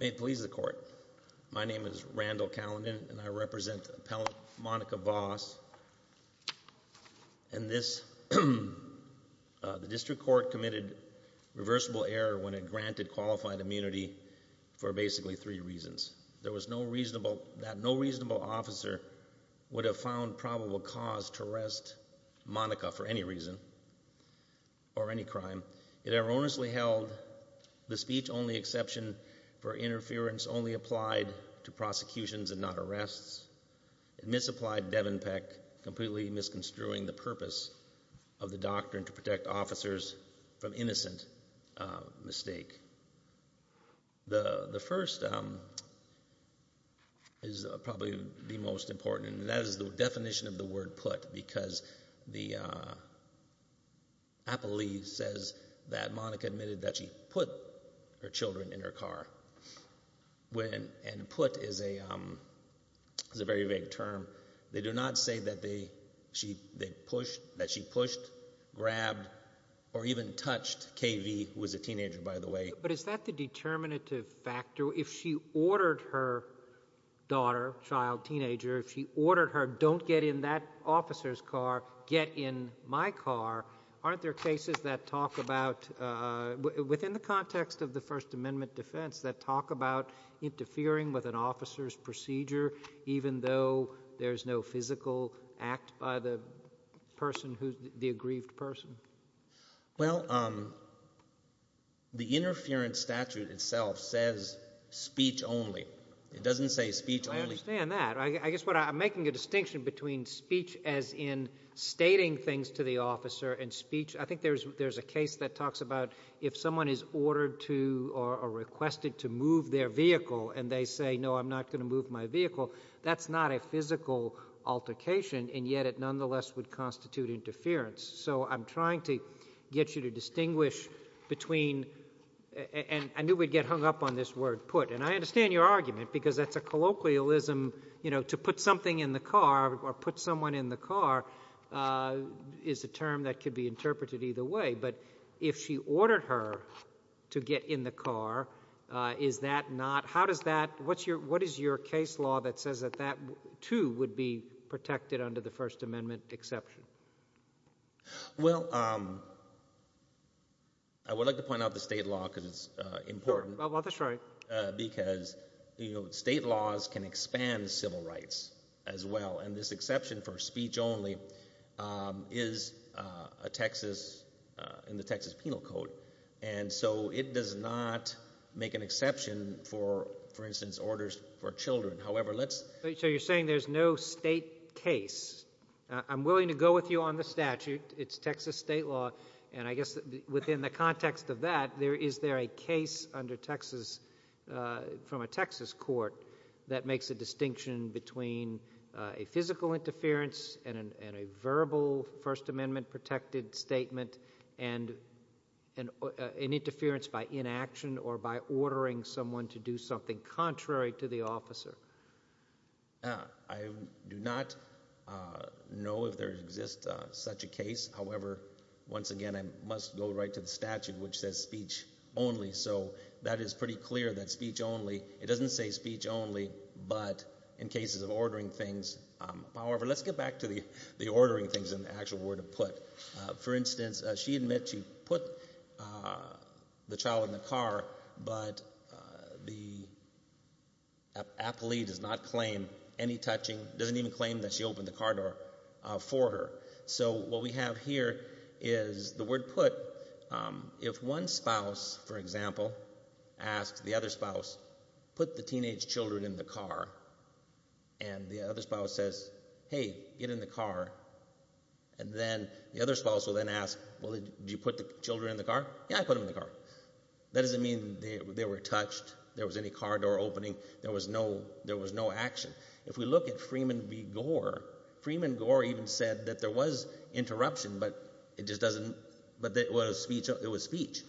May it please the court. My name is Randall Callendon and I represent appellant Monica Voss and this, the district court committed reversible error when it granted qualified immunity for basically three reasons. There was no reasonable, that no reasonable officer would have found probable cause to for any reason or any crime. It erroneously held the speech only exception for interference only applied to prosecutions and not arrests. It misapplied Devon Peck, completely misconstruing the purpose of the doctrine to protect officers from innocent mistake. The first is probably the most important and that is the definition of the word put because the appellee says that Monica admitted that she put her children in her car and put is a very vague term. They do not say that they pushed, that she pushed, grabbed or even touched KV who was a teenager by the way. But is that the determinative factor? If she ordered her daughter, child, teenager, if she ordered her don't get in that officer's car, get in my car, aren't there cases that talk about, within the context of the First Amendment defense that talk about interfering with an officer's procedure even though there is no physical act by the person who, the aggrieved person? Well, the interference statute itself says speech only. It doesn't say speech only. I understand that. I guess what I'm making a distinction between speech as in stating things to the officer and speech. I think there's a case that talks about if someone is ordered to or requested to move their vehicle and they say no I'm not going to move my vehicle, that's not a physical altercation and yet it nonetheless would constitute interference. So I'm trying to get you to distinguish between, and I knew we'd get hung up on this word put and I understand your argument because that's a colloquialism, you know, to put something in the car or put someone in the car is a term that could be interpreted either way. But if she ordered her to get in the car, is that not, how does that, what is your case law that says that that too would be protected under the First Amendment exception? Well, um, I would like to point out the state law because it's important because, you know, state laws can expand civil rights as well and this exception for speech only is a Texas, in the Texas Penal Code and so it does not make an exception for, for instance, orders for children. However, let's... So you're saying there's no state case. I'm willing to go with you on the statute. It's Texas state law and I guess within the context of that, there, is there a case under Texas, from a Texas court that makes a distinction between a physical interference and a verbal First Amendment protected statement and an interference by inaction or by ordering someone to do something contrary to the officer. I do not know if there exists such a case. However, once again, I must go right to the statute which says speech only. So that is pretty clear that speech only, it doesn't say speech only, but in cases of ordering things, however, let's get back to the ordering things in the actual word of put. For instance, she admits she put the child in the car, but the appellee does not claim any touching, doesn't even claim that she opened the car door for her. So what we have here is the word put. If one spouse, for example, asks the other spouse, put the teenage children in the car, and the other spouse says, hey, get in the car, and then the other spouse will then ask, well, did you put the children in the car? Yeah, I put them in the car. That doesn't mean they were touched, there was any car door opening, there was no action. If we look at Freeman v. Gore, Freeman Gore even said that there was interruption, but it just doesn't, but it was speech.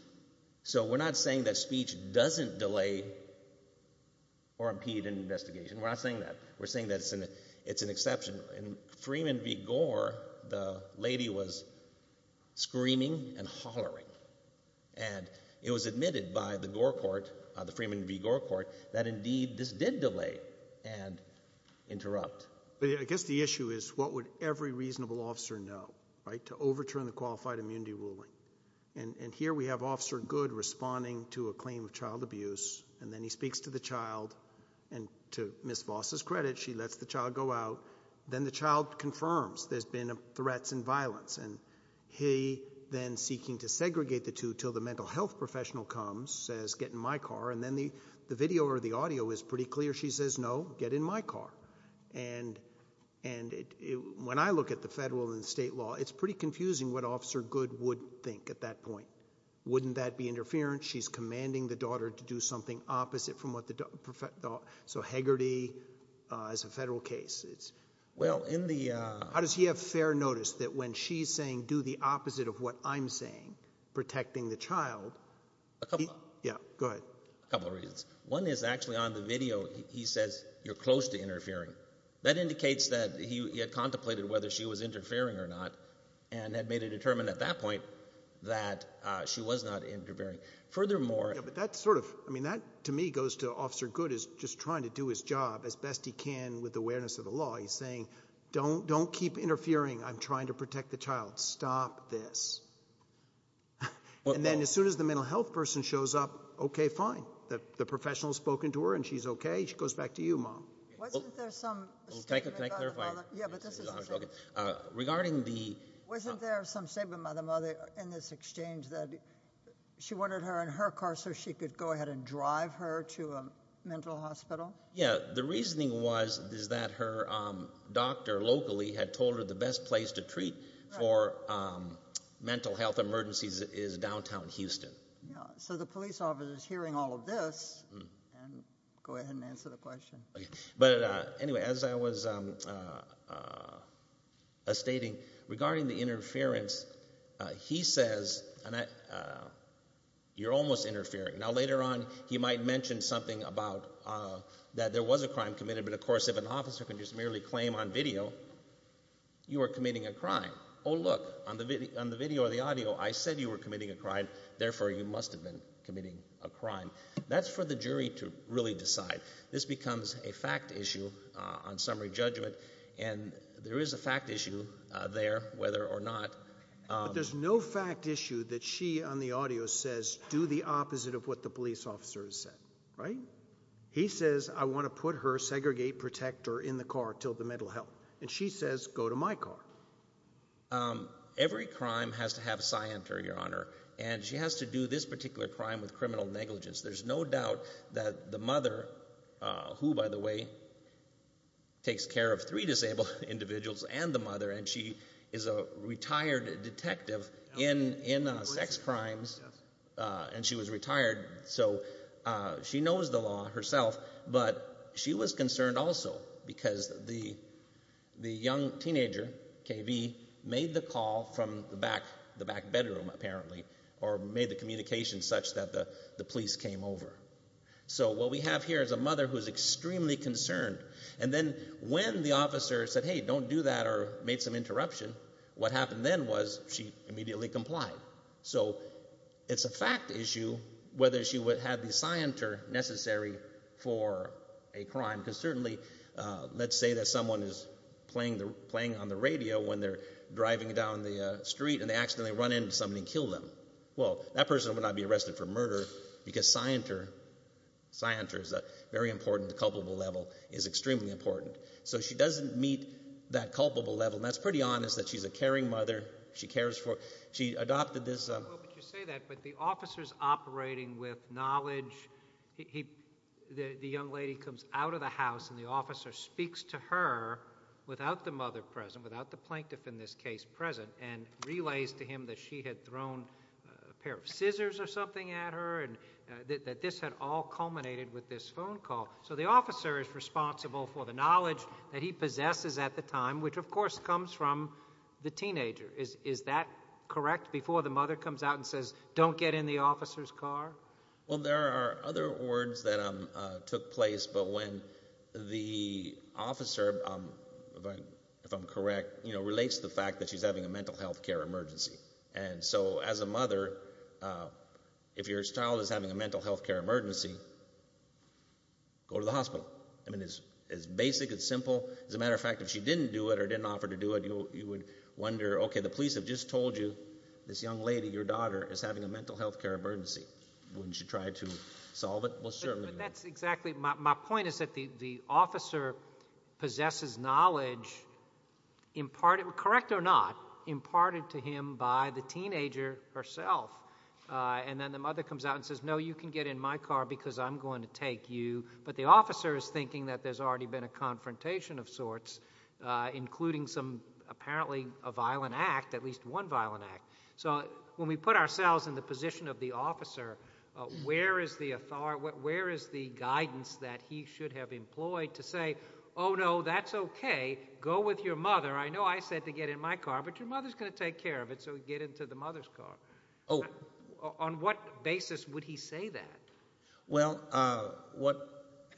So we're not saying that speech doesn't delay or impede an investigation. We're not saying that. We're saying that it's an exception. In Freeman v. Gore, the lady was screaming and hollering, and it was admitted by the Gore court, the Freeman v. Gore court, that indeed this did delay and interrupt. I guess the issue is what would every reasonable officer know, right? To overturn the qualified immunity ruling. And here we have Officer Good responding to a claim of child abuse, and then he speaks to the child, and to Ms. Voss's credit, she lets the child go out. Then the child confirms there's been threats and violence, and he then, seeking to segregate the two until the mental health professional comes, says, get in my car, and then the video or the audio is pretty clear. She says, no, get in my car. And when I look at the federal and state law, it's pretty confusing what Officer Good would think at that point. Wouldn't that be interference? She's commanding the daughter to do something opposite from what the, so Hegarty is a federal case. How does he have fair notice that when she's saying do the opposite of what I'm saying, protecting the child? Yeah, go ahead. A couple of reasons. One is actually on the video, he says, you're close to interfering. That indicates that he had contemplated whether she was interfering or not, and had made a determinant at that point that she was not interfering. Furthermore... Yeah, but that's sort of, I mean, that to me goes to Officer Good is just trying to do his job as best he can with awareness of the law. He's saying, don't keep interfering. I'm trying to protect the child. Stop this. And then as soon as the mental health person shows up, okay, fine. The professional has spoken to her and she's okay. She goes back to you, Mom. Wasn't there some statement by the mother in this exchange that she wanted her in her car so she could go ahead and drive her to a mental hospital? Yeah, the reasoning was is that her doctor locally had told her the best place to treat for mental health emergencies is downtown Houston. Yeah, so the police officer is hearing all of this, and go ahead and answer the question. But anyway, as I was stating, regarding the interference, he says, you're almost interfering. Now later on, he might mention something about that there was a crime committed, but of course if an officer can just merely claim on video, you are committing a crime. Oh look, on the video or the audio, I said you were committing a crime. Therefore, you must have been committing a crime. That's for the jury to really decide. This becomes a fact issue on summary judgment, and there is a fact issue there, whether or not. But there's no fact issue that she on the audio says do the opposite of what the police officer has said, right? He says I want to put her segregate protector in the car until the mental health, and she says go to my car. Every crime has to have a scienter, Your Honor, and she has to do this particular crime with criminal negligence. There's no doubt that the mother, who by the way, takes care of three disabled individuals and the mother, and she is a retired detective in sex crimes, and she was retired, so she knows the law herself, but she was concerned also because the young teenager, K.V., made the call from the back bedroom apparently, or made the communication such that the police came over. So what we have here is a mother who is extremely concerned, and then when the officer said hey, don't do that or made some interruption, what happened then was she immediately complied. So it's a fact issue whether she would have the scienter necessary for a crime, because certainly let's say that someone is playing on the radio when they're driving down the street and they accidentally run into somebody and kill them. Well, that person would not be arrested for murder because scienter, scienter is very important, the culpable level is extremely important. So she doesn't meet that culpable level, and that's pretty honest that she's a caring mother. She cares for, she adopted this. Well, but you say that, but the officers operating with knowledge, the young lady comes out of the house and the officer speaks to her without the mother present, without the plaintiff in this case present, and relays to him that she had thrown a pair of scissors or something at her and that this had all culminated with this phone call. So the officer is responsible for the knowledge that he possesses at the time, which of course comes from the teenager. Is that correct before the mother comes out and says, don't get in the officer's car? Well, there are other words that took place, but when the officer, if I'm correct, relates to the fact that she's having a mental health care emergency. And so as a mother, if your child is having a mental health care emergency, go to the hospital. I mean it's basic, it's simple. As a matter of fact, if she didn't do it or didn't offer to do it, you would wonder, okay, the police have just told you this young lady, your daughter, is having a mental health care emergency. Wouldn't you try to solve it? Well, certainly. But that's exactly, my point is that the officer possesses knowledge imparted, correct or not, imparted to him by the teenager herself. And then the mother comes out and says, no, you can get in my car because I'm going to take you. But the officer is thinking that there's already been a confrontation of sorts, including apparently a violent act, at least one violent act. So when we put ourselves in the position of the officer, where is the guidance that he should have employed to say, oh, no, that's okay, go with your mother. I know I said to get in my car, but your mother's going to take care of it, so get into the mother's car. On what basis would he say that? Well,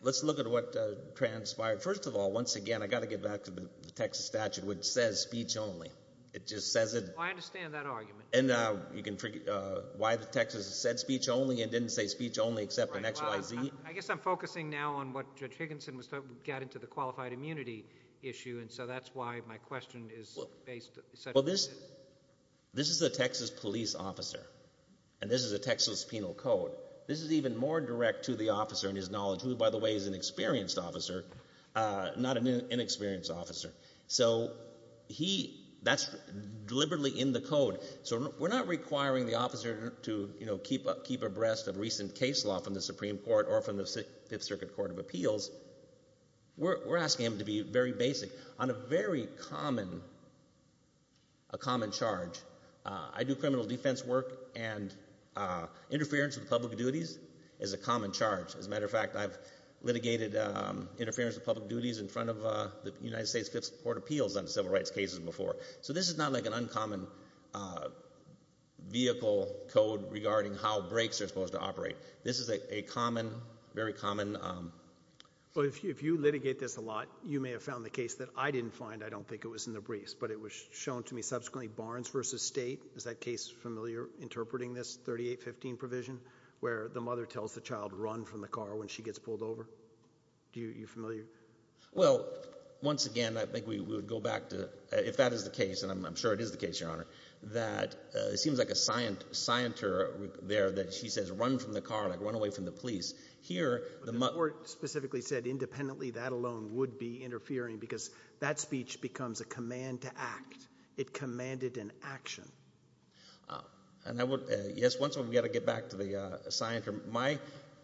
let's look at what transpired. First of all, once again, I've got to get back to the Texas statute, which says speech only. It just says it. I understand that argument. And you can figure out why the Texas said speech only and didn't say speech only except in XYZ. I guess I'm focusing now on what Judge Higginson was talking about, got into the qualified immunity issue, and so that's why my question is based. Well, this is a Texas police officer, and this is a Texas penal code. This is even more direct to the officer in his knowledge, who, by the way, is an experienced officer, not an inexperienced officer. So that's deliberately in the code. So we're not requiring the officer to keep abreast of recent case law from the Supreme Court or from the Fifth Circuit Court of Appeals. We're asking him to be very basic on a very common charge. I do criminal defense work, and interference with public duties is a common charge. As a matter of fact, I've litigated interference with public duties in front of the United States Fifth Court of Appeals on civil rights cases before. So this is not like an uncommon vehicle code regarding how brakes are supposed to operate. This is a common, very common. Well, if you litigate this a lot, you may have found the case that I didn't find. I don't think it was in the briefs, but it was shown to me subsequently Barnes v. State. Is that case familiar, interpreting this 3815 provision where the mother tells the child run from the car when she gets pulled over? Are you familiar? Well, once again, I think we would go back to if that is the case, and I'm sure it is the case, Your Honor, that it seems like a scienter there that she says run from the car, like run away from the police. The court specifically said independently that alone would be interfering because that speech becomes a command to act. It commanded an action. Yes, once again, we've got to get back to the scienter. My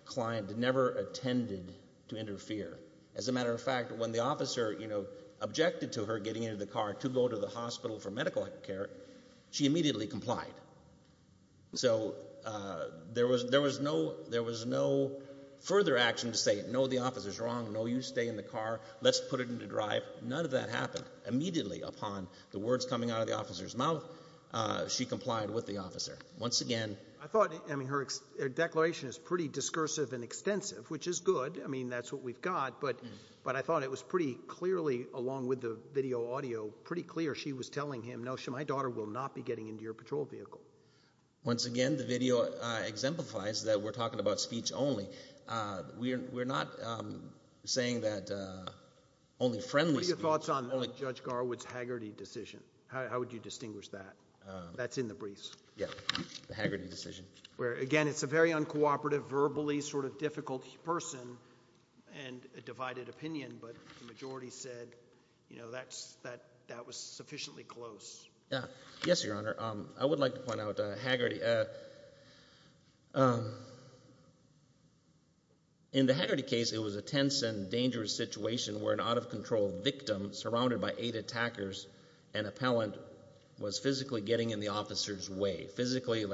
client never attended to interfere. As a matter of fact, when the officer objected to her getting into the car to go to the hospital for medical care, she immediately complied. So there was no further action to say no, the officer's wrong, no, you stay in the car, let's put it into drive. None of that happened. Immediately upon the words coming out of the officer's mouth, she complied with the officer. Once again, I thought her declaration is pretty discursive and extensive, which is good. I mean, that's what we've got. But I thought it was pretty clearly, along with the video audio, pretty clear she was telling him, no, my daughter will not be getting into your patrol vehicle. Once again, the video exemplifies that we're talking about speech only. We're not saying that only friendly speech. What are your thoughts on Judge Garwood's Haggerty decision? How would you distinguish that? That's in the briefs. Yeah, the Haggerty decision. Again, it's a very uncooperative, verbally sort of difficult person and a divided opinion. But the majority said that was sufficiently close. Yes, Your Honor. In the Haggerty case, it was a tense and dangerous situation where an out-of-control victim surrounded by eight attackers and appellant was physically getting in the officer's way, physically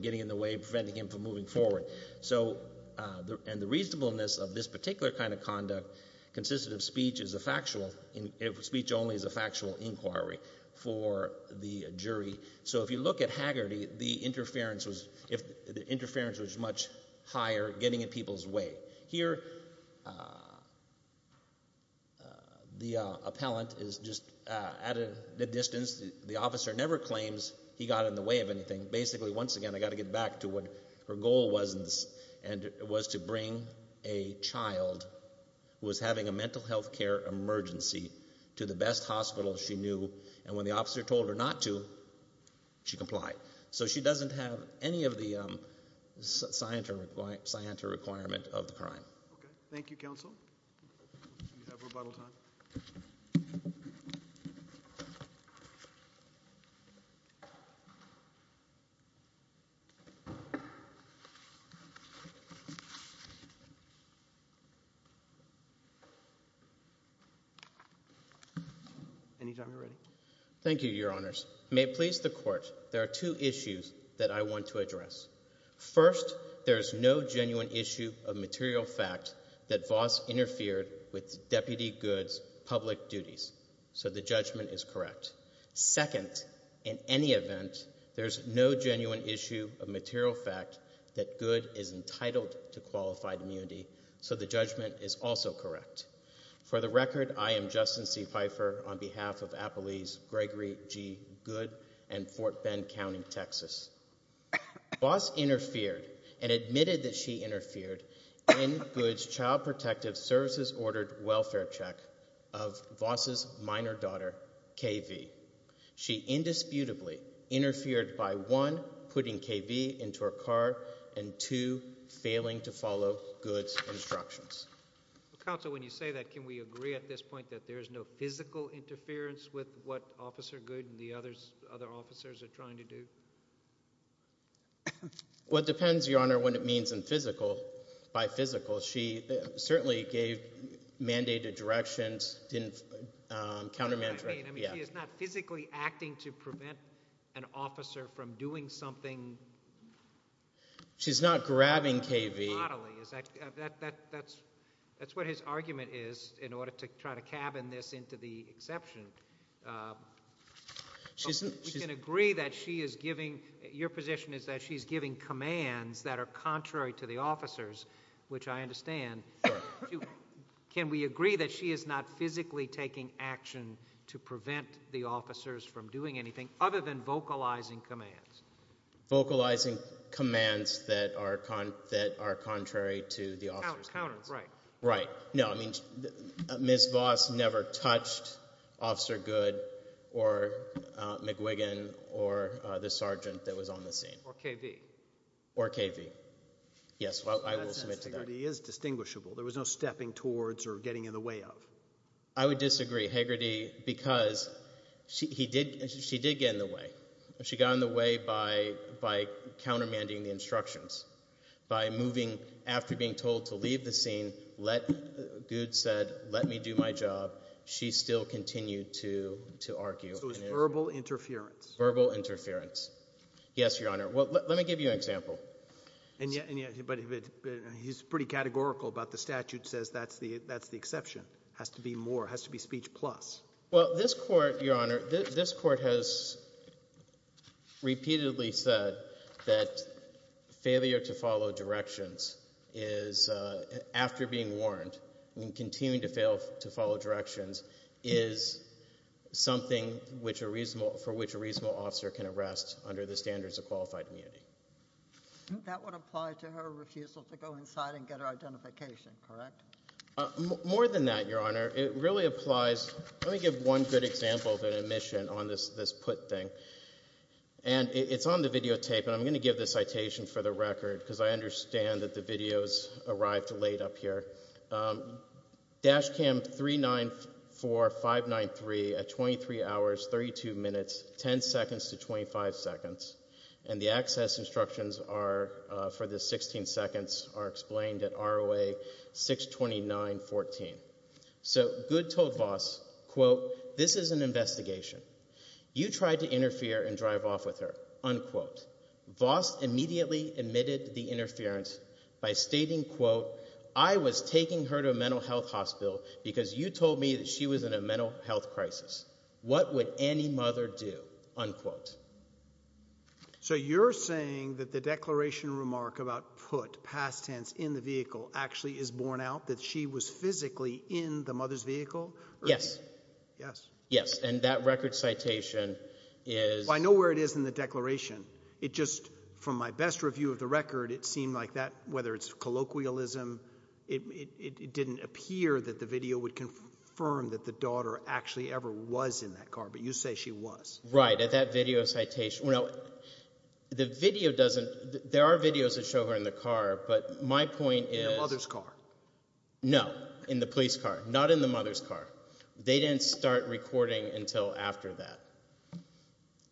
getting in the way, preventing him from moving forward. And the reasonableness of this particular kind of conduct consisted of speech only as a factual inquiry for the jury. So if you look at Haggerty, the interference was much higher, getting in people's way. Here, the appellant is just at a distance. The officer never claims he got in the way of anything. And basically, once again, I've got to get back to what her goal was, and it was to bring a child who was having a mental health care emergency to the best hospital she knew. And when the officer told her not to, she complied. So she doesn't have any of the scienter requirement of the crime. Okay. Thank you, counsel. Do you have rebuttal time? Anytime you're ready. Thank you, Your Honors. May it please the court, there are two issues that I want to address. First, there is no genuine issue of material fact that Voss interfered with Deputy Goode's public duties. So the judgment is correct. Second, in any event, there is no genuine issue of material fact that Goode is entitled to qualified immunity. So the judgment is also correct. For the record, I am Justin C. Pfeiffer on behalf of Appalese Gregory G. Goode and Fort Bend County, Texas. Voss interfered and admitted that she interfered in Goode's child protective services ordered welfare check of Voss's minor daughter, K.V. She indisputably interfered by, one, putting K.V. into her car, and, two, failing to follow Goode's instructions. Counsel, when you say that, can we agree at this point that there is no physical interference with what Officer Goode and the other officers are trying to do? Well, it depends, Your Honor, what it means by physical. She certainly gave mandated directions, didn't countermanage her. I mean, she is not physically acting to prevent an officer from doing something bodily. She's not grabbing K.V. Not bodily. That's what his argument is in order to try to cabin this into the exception. We can agree that she is giving – your position is that she is giving commands that are contrary to the officers, which I understand. Can we agree that she is not physically taking action to prevent the officers from doing anything other than vocalizing commands? Vocalizing commands that are contrary to the officers. Counters, right. Right. No, I mean Ms. Voss never touched Officer Goode or McGuigan or the sergeant that was on the scene. Or K.V. Or K.V. Yes, I will submit to that. That says Hagerty is distinguishable. There was no stepping towards or getting in the way of. I would disagree. Hagerty, because she did get in the way. She got in the way by countermanding the instructions, by moving after being told to leave the scene. Goode said, let me do my job. She still continued to argue. So it was verbal interference. Verbal interference. Yes, Your Honor. Well, let me give you an example. But he's pretty categorical about the statute, says that's the exception. Has to be more. Has to be speech plus. Well, this court, Your Honor, this court has repeatedly said that failure to follow directions is after being warned and continuing to fail to follow directions is something for which a reasonable officer can arrest under the standards of qualified immunity. That would apply to her refusal to go inside and get her identification, correct? More than that, Your Honor. It really applies. Let me give one good example of an omission on this put thing. And it's on the videotape. And I'm going to give the citation for the record because I understand that the videos arrived late up here. Dash cam 394593 at 23 hours, 32 minutes, 10 seconds to 25 seconds. And the access instructions are for the 16 seconds are explained at ROA 62914. So Goode told Voss, quote, this is an investigation. You tried to interfere and drive off with her, unquote. Voss immediately admitted the interference by stating, quote, I was taking her to a mental health hospital because you told me that she was in a mental health crisis. What would any mother do? Unquote. So you're saying that the declaration remark about put past tense in the vehicle actually is borne out that she was physically in the mother's vehicle? Yes. Yes. Yes. And that record citation is. So I know where it is in the declaration. It just, from my best review of the record, it seemed like that, whether it's colloquialism, it didn't appear that the video would confirm that the daughter actually ever was in that car. But you say she was. Right. At that video citation. The video doesn't. There are videos that show her in the car. But my point is. In the mother's car. No. In the police car. Not in the mother's car. They didn't start recording until after that.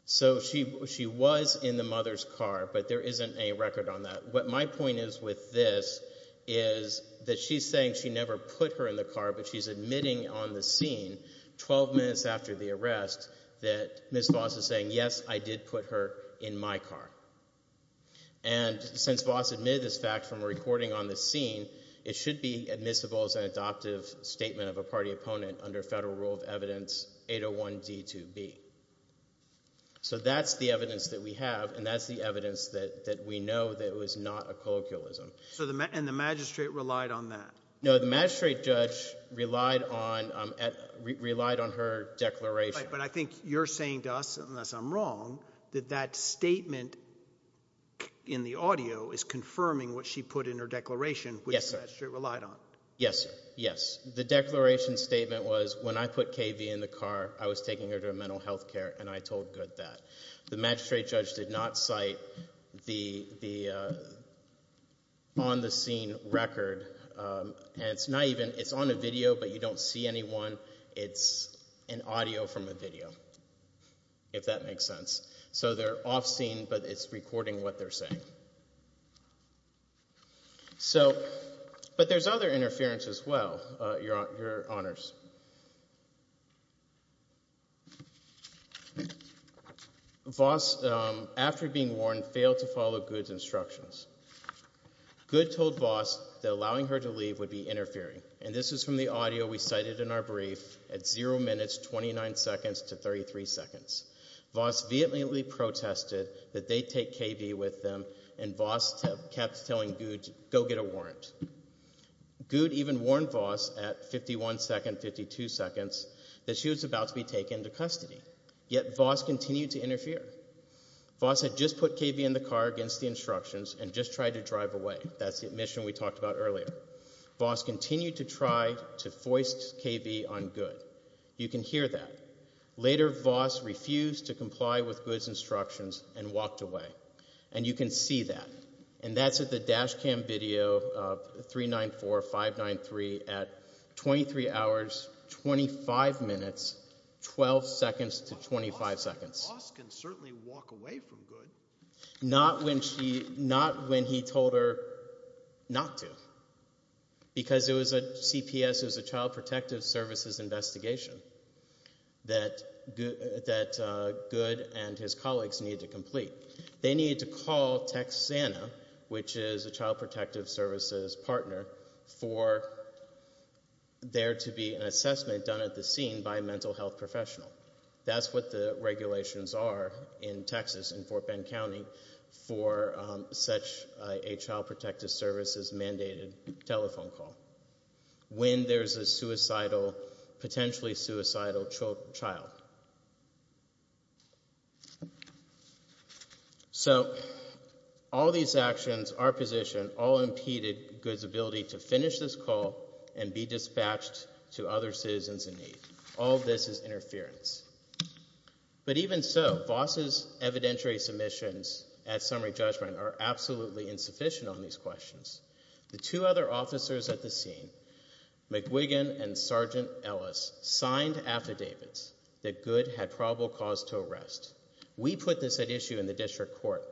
So she she was in the mother's car, but there isn't a record on that. What my point is with this is that she's saying she never put her in the car, but she's admitting on the scene 12 minutes after the arrest that Miss Voss is saying, yes, I did put her in my car. And since Voss admitted this fact from a recording on the scene, it should be admissible as an adoptive statement of a party opponent under federal rule of evidence 801D2B. So that's the evidence that we have, and that's the evidence that we know that it was not a colloquialism. And the magistrate relied on that? No, the magistrate judge relied on her declaration. But I think you're saying to us, unless I'm wrong, that that statement in the audio is confirming what she put in her declaration, which the magistrate relied on. Yes, yes. The declaration statement was when I put KV in the car, I was taking her to a mental health care, and I told good that the magistrate judge did not cite the on the scene record. And it's not even it's on a video, but you don't see anyone. It's an audio from a video, if that makes sense. So they're off scene, but it's recording what they're saying. So but there's other interference as well, Your Honors. Voss, after being warned, failed to follow good's instructions. Good told Voss that allowing her to leave would be interfering. And this is from the audio we cited in our brief at 0 minutes, 29 seconds to 33 seconds. Voss vehemently protested that they take KV with them. And Voss kept telling good to go get a warrant. Good even warned Voss at 51 seconds, 52 seconds that she was about to be taken into custody. Yet Voss continued to interfere. Voss had just put KV in the car against the instructions and just tried to drive away. That's the admission we talked about earlier. Voss continued to try to foist KV on good. You can hear that. Later, Voss refused to comply with good's instructions and walked away. And you can see that. And that's at the dash cam video 394593 at 23 hours, 25 minutes, 12 seconds to 25 seconds. Voss can certainly walk away from good. Not when he told her not to. Because it was a CPS, it was a child protective services investigation, that good and his colleagues needed to complete. They needed to call TechSANA, which is a child protective services partner, for there to be an assessment done at the scene by a mental health professional. That's what the regulations are in Texas, in Fort Bend County, for such a child protective services mandated telephone call, when there's a potentially suicidal child. So all these actions, our position, all impeded good's ability to finish this call All this is interference. But even so, Voss's evidentiary submissions at summary judgment are absolutely insufficient on these questions. The two other officers at the scene, McGuigan and Sergeant Ellis, signed affidavits that good had probable cause to arrest. We put this at issue in the district court,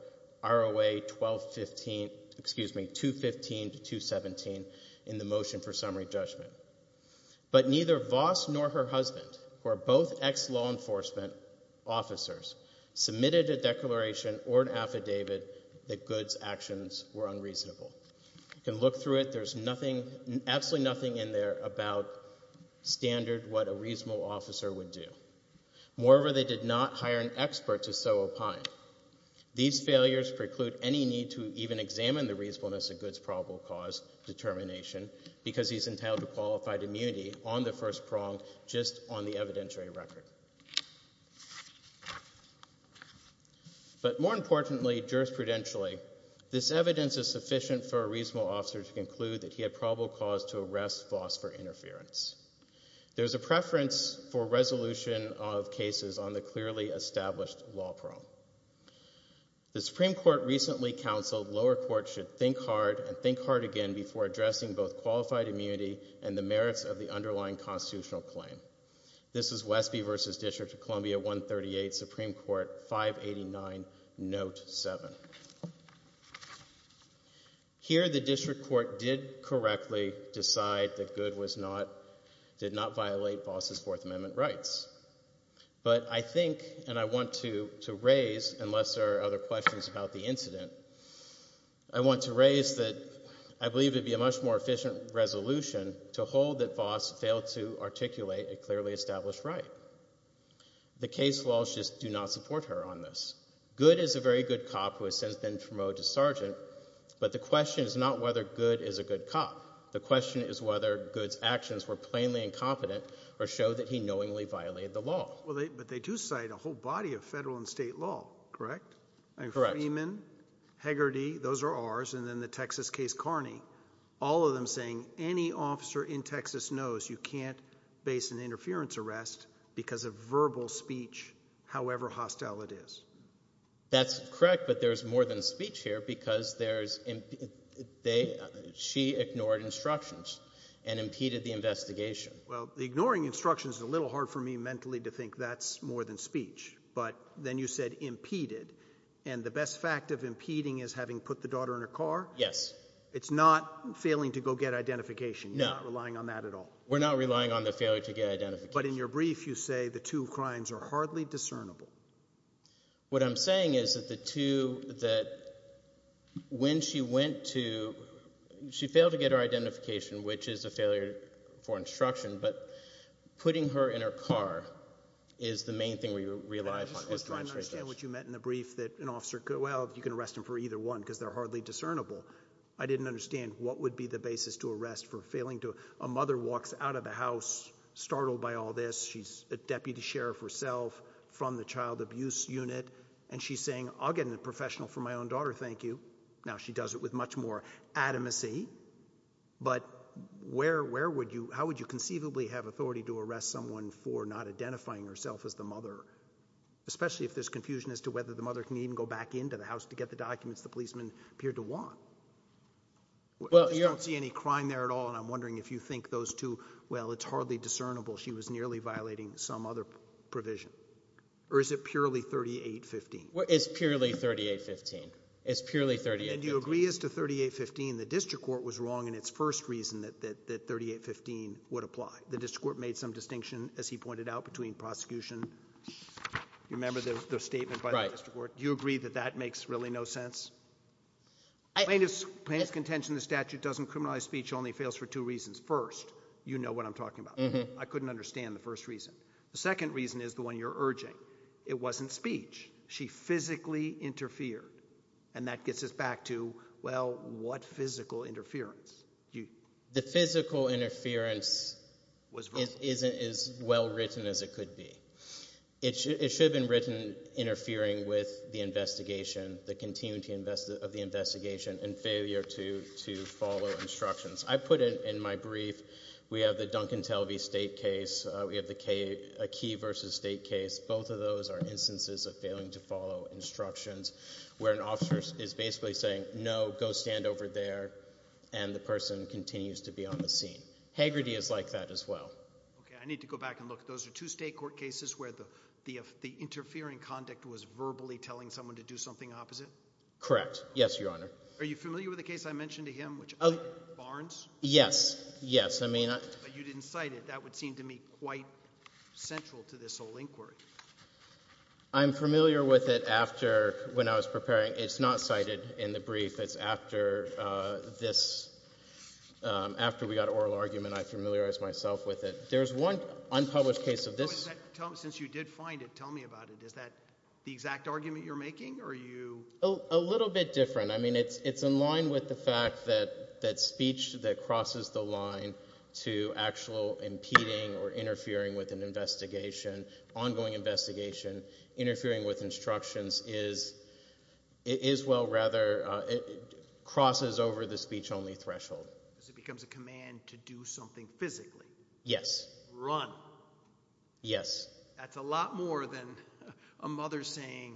ROA 215 to 217, in the motion for summary judgment. But neither Voss nor her husband, who are both ex-law enforcement officers, submitted a declaration or an affidavit that good's actions were unreasonable. You can look through it. There's absolutely nothing in there about standard what a reasonable officer would do. Moreover, they did not hire an expert to so opine. These failures preclude any need to even examine the reasonableness of good's probable cause determination because he's entitled to qualified immunity on the first prong, just on the evidentiary record. But more importantly, jurisprudentially, this evidence is sufficient for a reasonable officer to conclude that he had probable cause to arrest Voss for interference. There's a preference for resolution of cases on the clearly established law prong. The Supreme Court recently counseled lower court should think hard and think hard again before addressing both qualified immunity and the merits of the underlying constitutional claim. This is Westby v. District of Columbia 138, Supreme Court 589, Note 7. Here the district court did correctly decide that good did not violate Voss' Fourth Amendment rights. But I think and I want to raise, unless there are other questions about the incident, I want to raise that I believe it would be a much more efficient resolution to hold that Voss failed to articulate a clearly established right. The case laws just do not support her on this. Good is a very good cop who has since been promoted to sergeant, but the question is not whether good is a good cop. The question is whether good's actions were plainly incompetent or show that he knowingly violated the law. But they do cite a whole body of federal and state law, correct? Correct. Freeman, Hegarty, those are ours, and then the Texas case Carney, all of them saying any officer in Texas knows you can't base an interference arrest because of verbal speech, however hostile it is. That's correct, but there's more than speech here because there's she ignored instructions and impeded the investigation. Well, ignoring instructions is a little hard for me mentally to think that's more than speech. But then you said impeded, and the best fact of impeding is having put the daughter in her car? Yes. It's not failing to go get identification? No. You're not relying on that at all? We're not relying on the failure to get identification. But in your brief you say the two crimes are hardly discernible. What I'm saying is that the two that when she went to she failed to get her identification, which is a failure for instruction, but putting her in her car is the main thing we rely upon. I'm trying to understand what you meant in the brief that an officer could, well, you can arrest him for either one because they're hardly discernible. I didn't understand what would be the basis to arrest for failing to a mother walks out of the house startled by all this. She's a deputy sheriff herself from the child abuse unit, and she's saying I'll get a professional for my own daughter, thank you. Now she does it with much more adamancy. But how would you conceivably have authority to arrest someone for not identifying herself as the mother, especially if there's confusion as to whether the mother can even go back into the house to get the documents the policeman appeared to want? I don't see any crime there at all, and I'm wondering if you think those two, well, it's hardly discernible she was nearly violating some other provision. Or is it purely 3815? It's purely 3815. It's purely 3815. Do you agree as to 3815? The district court was wrong in its first reason that 3815 would apply. The district court made some distinction, as he pointed out, between prosecution. Do you remember the statement by the district court? Do you agree that that makes really no sense? Plaintiff's contention in the statute doesn't criminalize speech, only fails for two reasons. First, you know what I'm talking about. I couldn't understand the first reason. The second reason is the one you're urging. It wasn't speech. She physically interfered, and that gets us back to, well, what physical interference? The physical interference isn't as well written as it could be. It should have been written interfering with the investigation, the continuity of the investigation, and failure to follow instructions. I put it in my brief. We have the Duncan Telvey state case. We have a Key v. State case. Both of those are instances of failing to follow instructions, where an officer is basically saying, no, go stand over there, and the person continues to be on the scene. Hagerty is like that as well. Okay, I need to go back and look. Those are two state court cases where the interfering conduct was verbally telling someone to do something opposite? Correct. Yes, Your Honor. Are you familiar with the case I mentioned to him, Barnes? Yes, yes. But you didn't cite it. I don't think that would seem to me quite central to this whole inquiry. I'm familiar with it after when I was preparing. It's not cited in the brief. It's after this, after we got oral argument, I familiarized myself with it. There's one unpublished case of this. Since you did find it, tell me about it. Is that the exact argument you're making? A little bit different. I mean, it's in line with the fact that speech that crosses the line to actual impeding or interfering with an investigation, ongoing investigation, interfering with instructions is well, rather, it crosses over the speech-only threshold. Because it becomes a command to do something physically. Yes. Run. Yes. That's a lot more than a mother saying,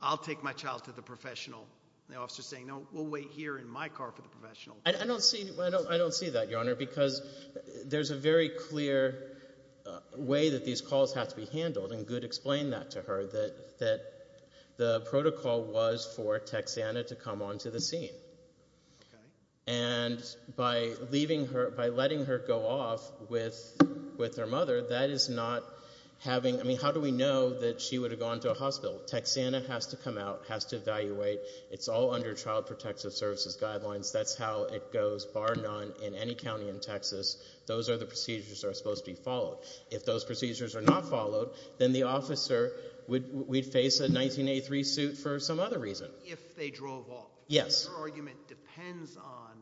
I'll take my child to the professional, and the officer saying, no, we'll wait here in my car for the professional. I don't see that, Your Honor, because there's a very clear way that these calls have to be handled, and Good explained that to her, that the protocol was for Texanna to come onto the scene. Okay. And by letting her go off with her mother, that is not having ñ I mean, how do we know that she would have gone to a hospital? Texanna has to come out, has to evaluate. It's all under Child Protective Services guidelines. That's how it goes, bar none, in any county in Texas. Those are the procedures that are supposed to be followed. If those procedures are not followed, then the officer would face a 1983 suit for some other reason. If they drove off. Yes. Her argument depends on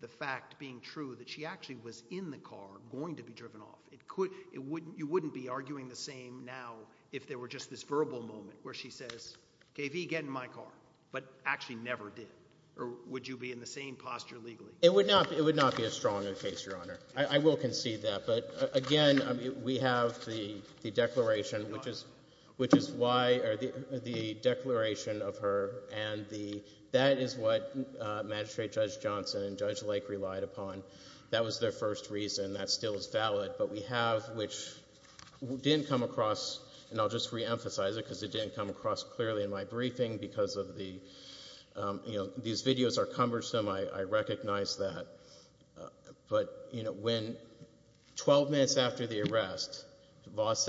the fact being true that she actually was in the car going to be driven off. You wouldn't be arguing the same now if there were just this verbal moment where she says, KV, get in my car, but actually never did. Or would you be in the same posture legally? It would not be a stronger case, Your Honor. I will concede that. But, again, we have the declaration, which is why the declaration of her, and that is what Magistrate Judge Johnson and Judge Lake relied upon. That was their first reason. That still is valid. But we have, which didn't come across, and I'll just reemphasize it because it didn't come across clearly in my briefing because these videos are cumbersome. I recognize that. But when 12 minutes after the arrest, Voss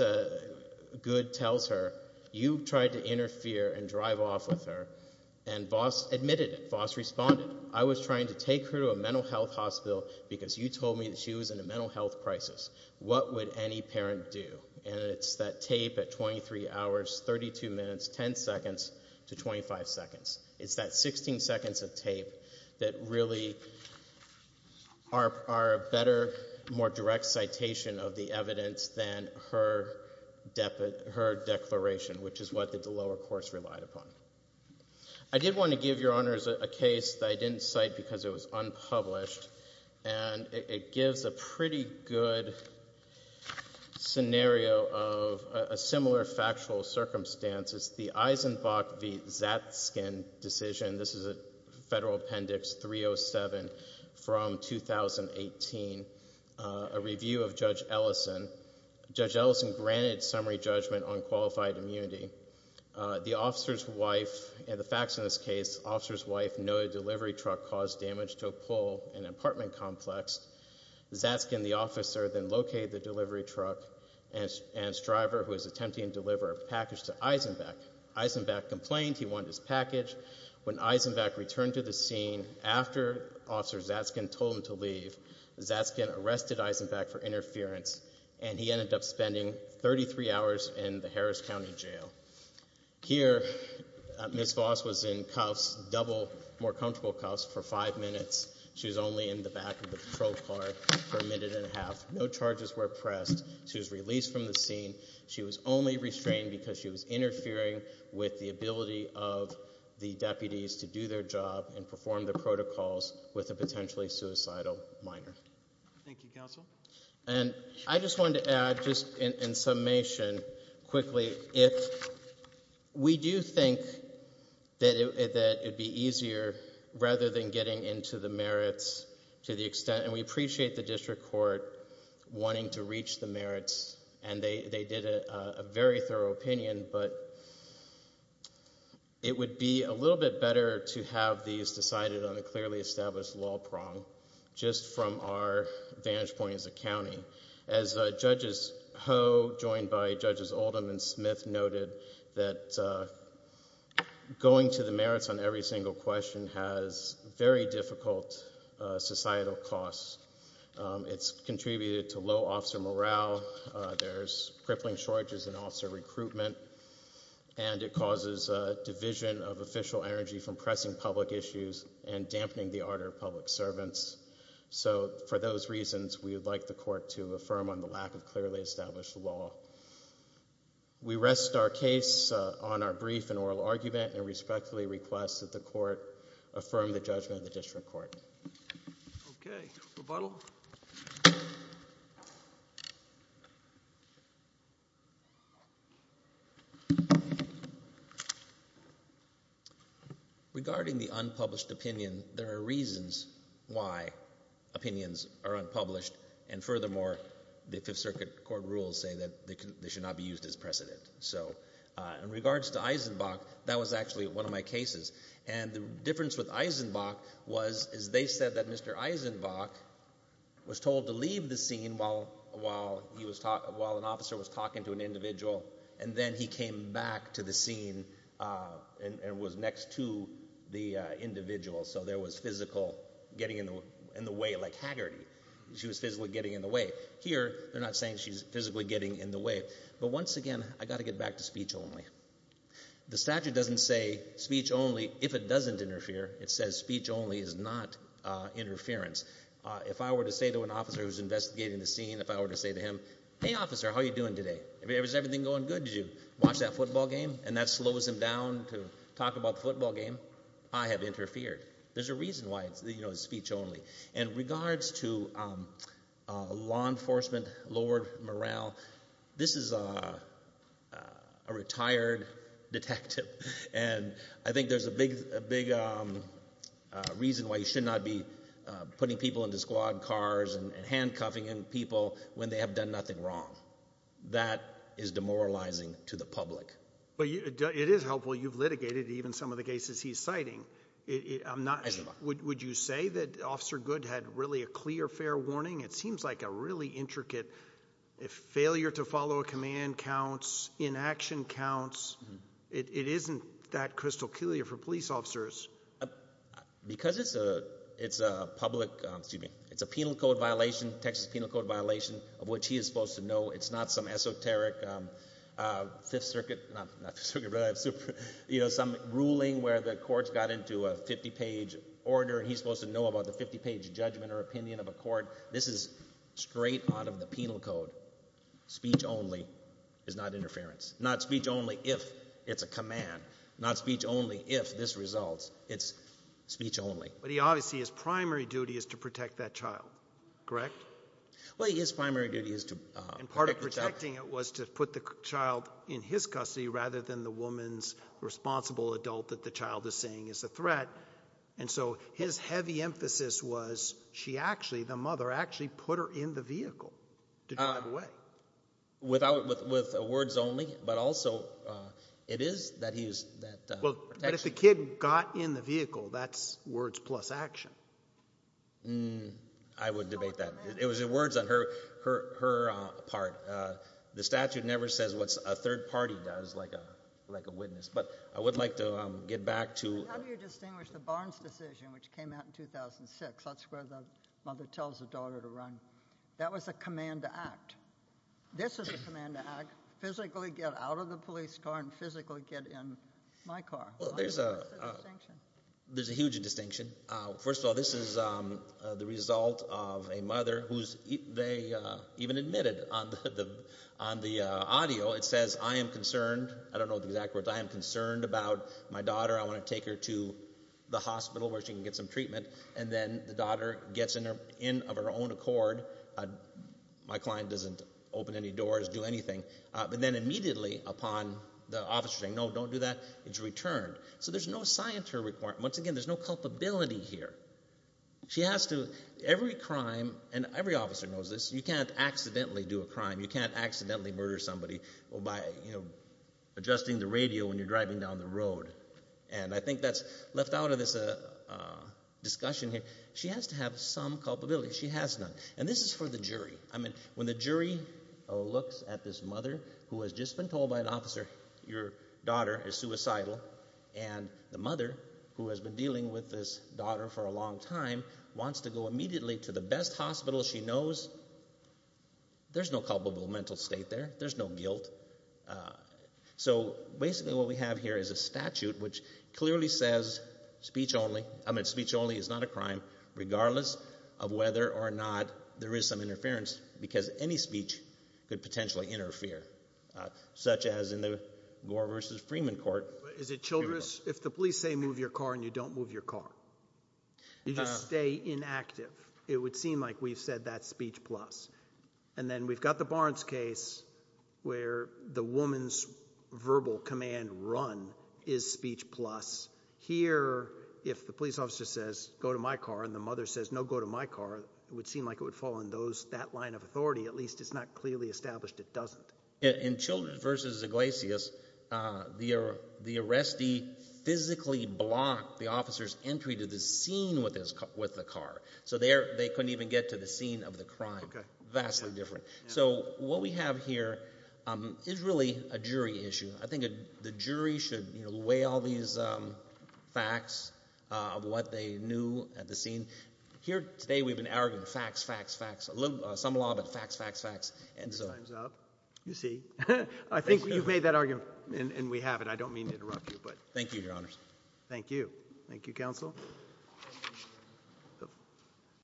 Good tells her, you tried to interfere and drive off with her, and Voss admitted it. Voss responded, I was trying to take her to a mental health hospital because you told me that she was in a mental health crisis. What would any parent do? And it's that tape at 23 hours, 32 minutes, 10 seconds to 25 seconds. It's that 16 seconds of tape that really are a better, more direct citation of the evidence than her declaration, which is what the lower course relied upon. I did want to give Your Honors a case that I didn't cite because it was unpublished, and it gives a pretty good scenario of a similar factual circumstance. It's the Eisenbach v. Zatzkin decision. This is a Federal Appendix 307 from 2018, a review of Judge Ellison. Judge Ellison granted summary judgment on qualified immunity. The officer's wife, and the facts in this case, officer's wife know a delivery truck caused damage to a pole in an apartment complex. Zatzkin, the officer, then located the delivery truck and its driver who was attempting to deliver a package to Eisenbach. Eisenbach complained he wanted his package. When Eisenbach returned to the scene after Officer Zatzkin told him to leave, Zatzkin arrested Eisenbach for interference, and he ended up spending 33 hours in the Harris County Jail. Here Ms. Voss was in cuffs, double, more comfortable cuffs for five minutes. She was only in the back of the patrol car for a minute and a half. No charges were pressed. She was released from the scene. She was only restrained because she was interfering with the ability of the deputies to do their job and perform their protocols with a potentially suicidal minor. Thank you, Counsel. And I just wanted to add, just in summation, quickly, if we do think that it would be easier rather than getting into the merits to the extent, and we appreciate the district court wanting to reach the merits, and they did a very thorough opinion, but it would be a little bit better to have these decided on a clearly established law prong, just from our vantage point as a county. As Judges Ho, joined by Judges Oldham and Smith, noted that going to the merits on every single question has very difficult societal costs. It's contributed to low officer morale. There's crippling shortages in officer recruitment, and it causes division of official energy from pressing public issues and dampening the ardor of public servants. So for those reasons, we would like the court to affirm on the lack of clearly established law. We rest our case on our brief and oral argument and respectfully request that the court affirm the judgment of the district court. Okay. Rebuttal. Regarding the unpublished opinion, there are reasons why opinions are unpublished, and furthermore, the Fifth Circuit court rules say that they should not be used as precedent. So in regards to Eisenbach, that was actually one of my cases, and the difference with Eisenbach was they said that Mr. Eisenbach was told to leave the scene while an officer was talking to an individual, and then he came back to the scene and was next to the individual, so there was physical getting in the way, like Haggerty. She was physically getting in the way. Here, they're not saying she's physically getting in the way. But once again, I've got to get back to speech only. The statute doesn't say speech only if it doesn't interfere. It says speech only is not interference. If I were to say to an officer who's investigating the scene, if I were to say to him, Hey, officer, how are you doing today? Is everything going good? Did you watch that football game? And that slows him down to talk about the football game. I have interfered. There's a reason why it's speech only. In regards to law enforcement lowered morale, this is a retired detective, and I think there's a big reason why you should not be putting people into squad cars and handcuffing people when they have done nothing wrong. That is demoralizing to the public. But it is helpful. You've litigated even some of the cases he's citing. Would you say that Officer Good had really a clear, fair warning? It seems like a really intricate failure to follow a command counts, inaction counts. It isn't that crystal clear for police officers. Because it's a penal code violation, Texas penal code violation, of which he is supposed to know. It's not some esoteric Fifth Circuit ruling where the courts got into a 50-page order, and he's supposed to know about the 50-page judgment or opinion of a court. This is straight out of the penal code. Speech only is not interference. Not speech only if it's a command. Not speech only if this results. It's speech only. But obviously his primary duty is to protect that child, correct? Well, his primary duty is to protect the child. And part of protecting it was to put the child in his custody rather than the woman's responsible adult that the child is seeing is a threat. And so his heavy emphasis was she actually, the mother, actually put her in the vehicle to drive away. With words only, but also it is that he is that protection. But if the kid got in the vehicle, that's words plus action. I would debate that. It was words on her part. The statute never says what a third party does like a witness. But I would like to get back to— How do you distinguish the Barnes decision, which came out in 2006? That's where the mother tells the daughter to run. That was a command to act. This is a command to act. Physically get out of the police car and physically get in my car. Well, there's a huge distinction. First of all, this is the result of a mother who they even admitted on the audio. It says, I am concerned. I don't know the exact words. I am concerned about my daughter. I want to take her to the hospital where she can get some treatment. And then the daughter gets in of her own accord. My client doesn't open any doors, do anything. But then immediately upon the officer saying, no, don't do that, it's returned. So there's no scienter requirement. Once again, there's no culpability here. She has to—every crime, and every officer knows this, you can't accidentally do a crime. You can't accidentally murder somebody by adjusting the radio when you're driving down the road. And I think that's left out of this discussion here. She has to have some culpability. She has none. And this is for the jury. I mean, when the jury looks at this mother who has just been told by an officer your daughter is suicidal, and the mother, who has been dealing with this daughter for a long time, wants to go immediately to the best hospital she knows, there's no culpable mental state there. There's no guilt. So basically what we have here is a statute which clearly says speech only. I mean, speech only is not a crime regardless of whether or not there is some interference because any speech could potentially interfere, such as in the Gore v. Freeman court. Is it children's? If the police say move your car and you don't move your car, you just stay inactive. It would seem like we've said that's speech plus. And then we've got the Barnes case where the woman's verbal command run is speech plus. Here, if the police officer says go to my car and the mother says no, go to my car, it would seem like it would fall in that line of authority. At least it's not clearly established it doesn't. In Children v. Iglesias, the arrestee physically blocked the officer's entry to the scene with the car, so they couldn't even get to the scene of the crime. Vastly different. So what we have here is really a jury issue. I think the jury should weigh all these facts of what they knew at the scene. Here today we've been arguing facts, facts, facts, some law, but facts, facts, facts. Your time's up. You see. I think you've made that argument, and we have it. I don't mean to interrupt you. Thank you, Your Honors. Thank you. Thank you, Counsel. Thank you.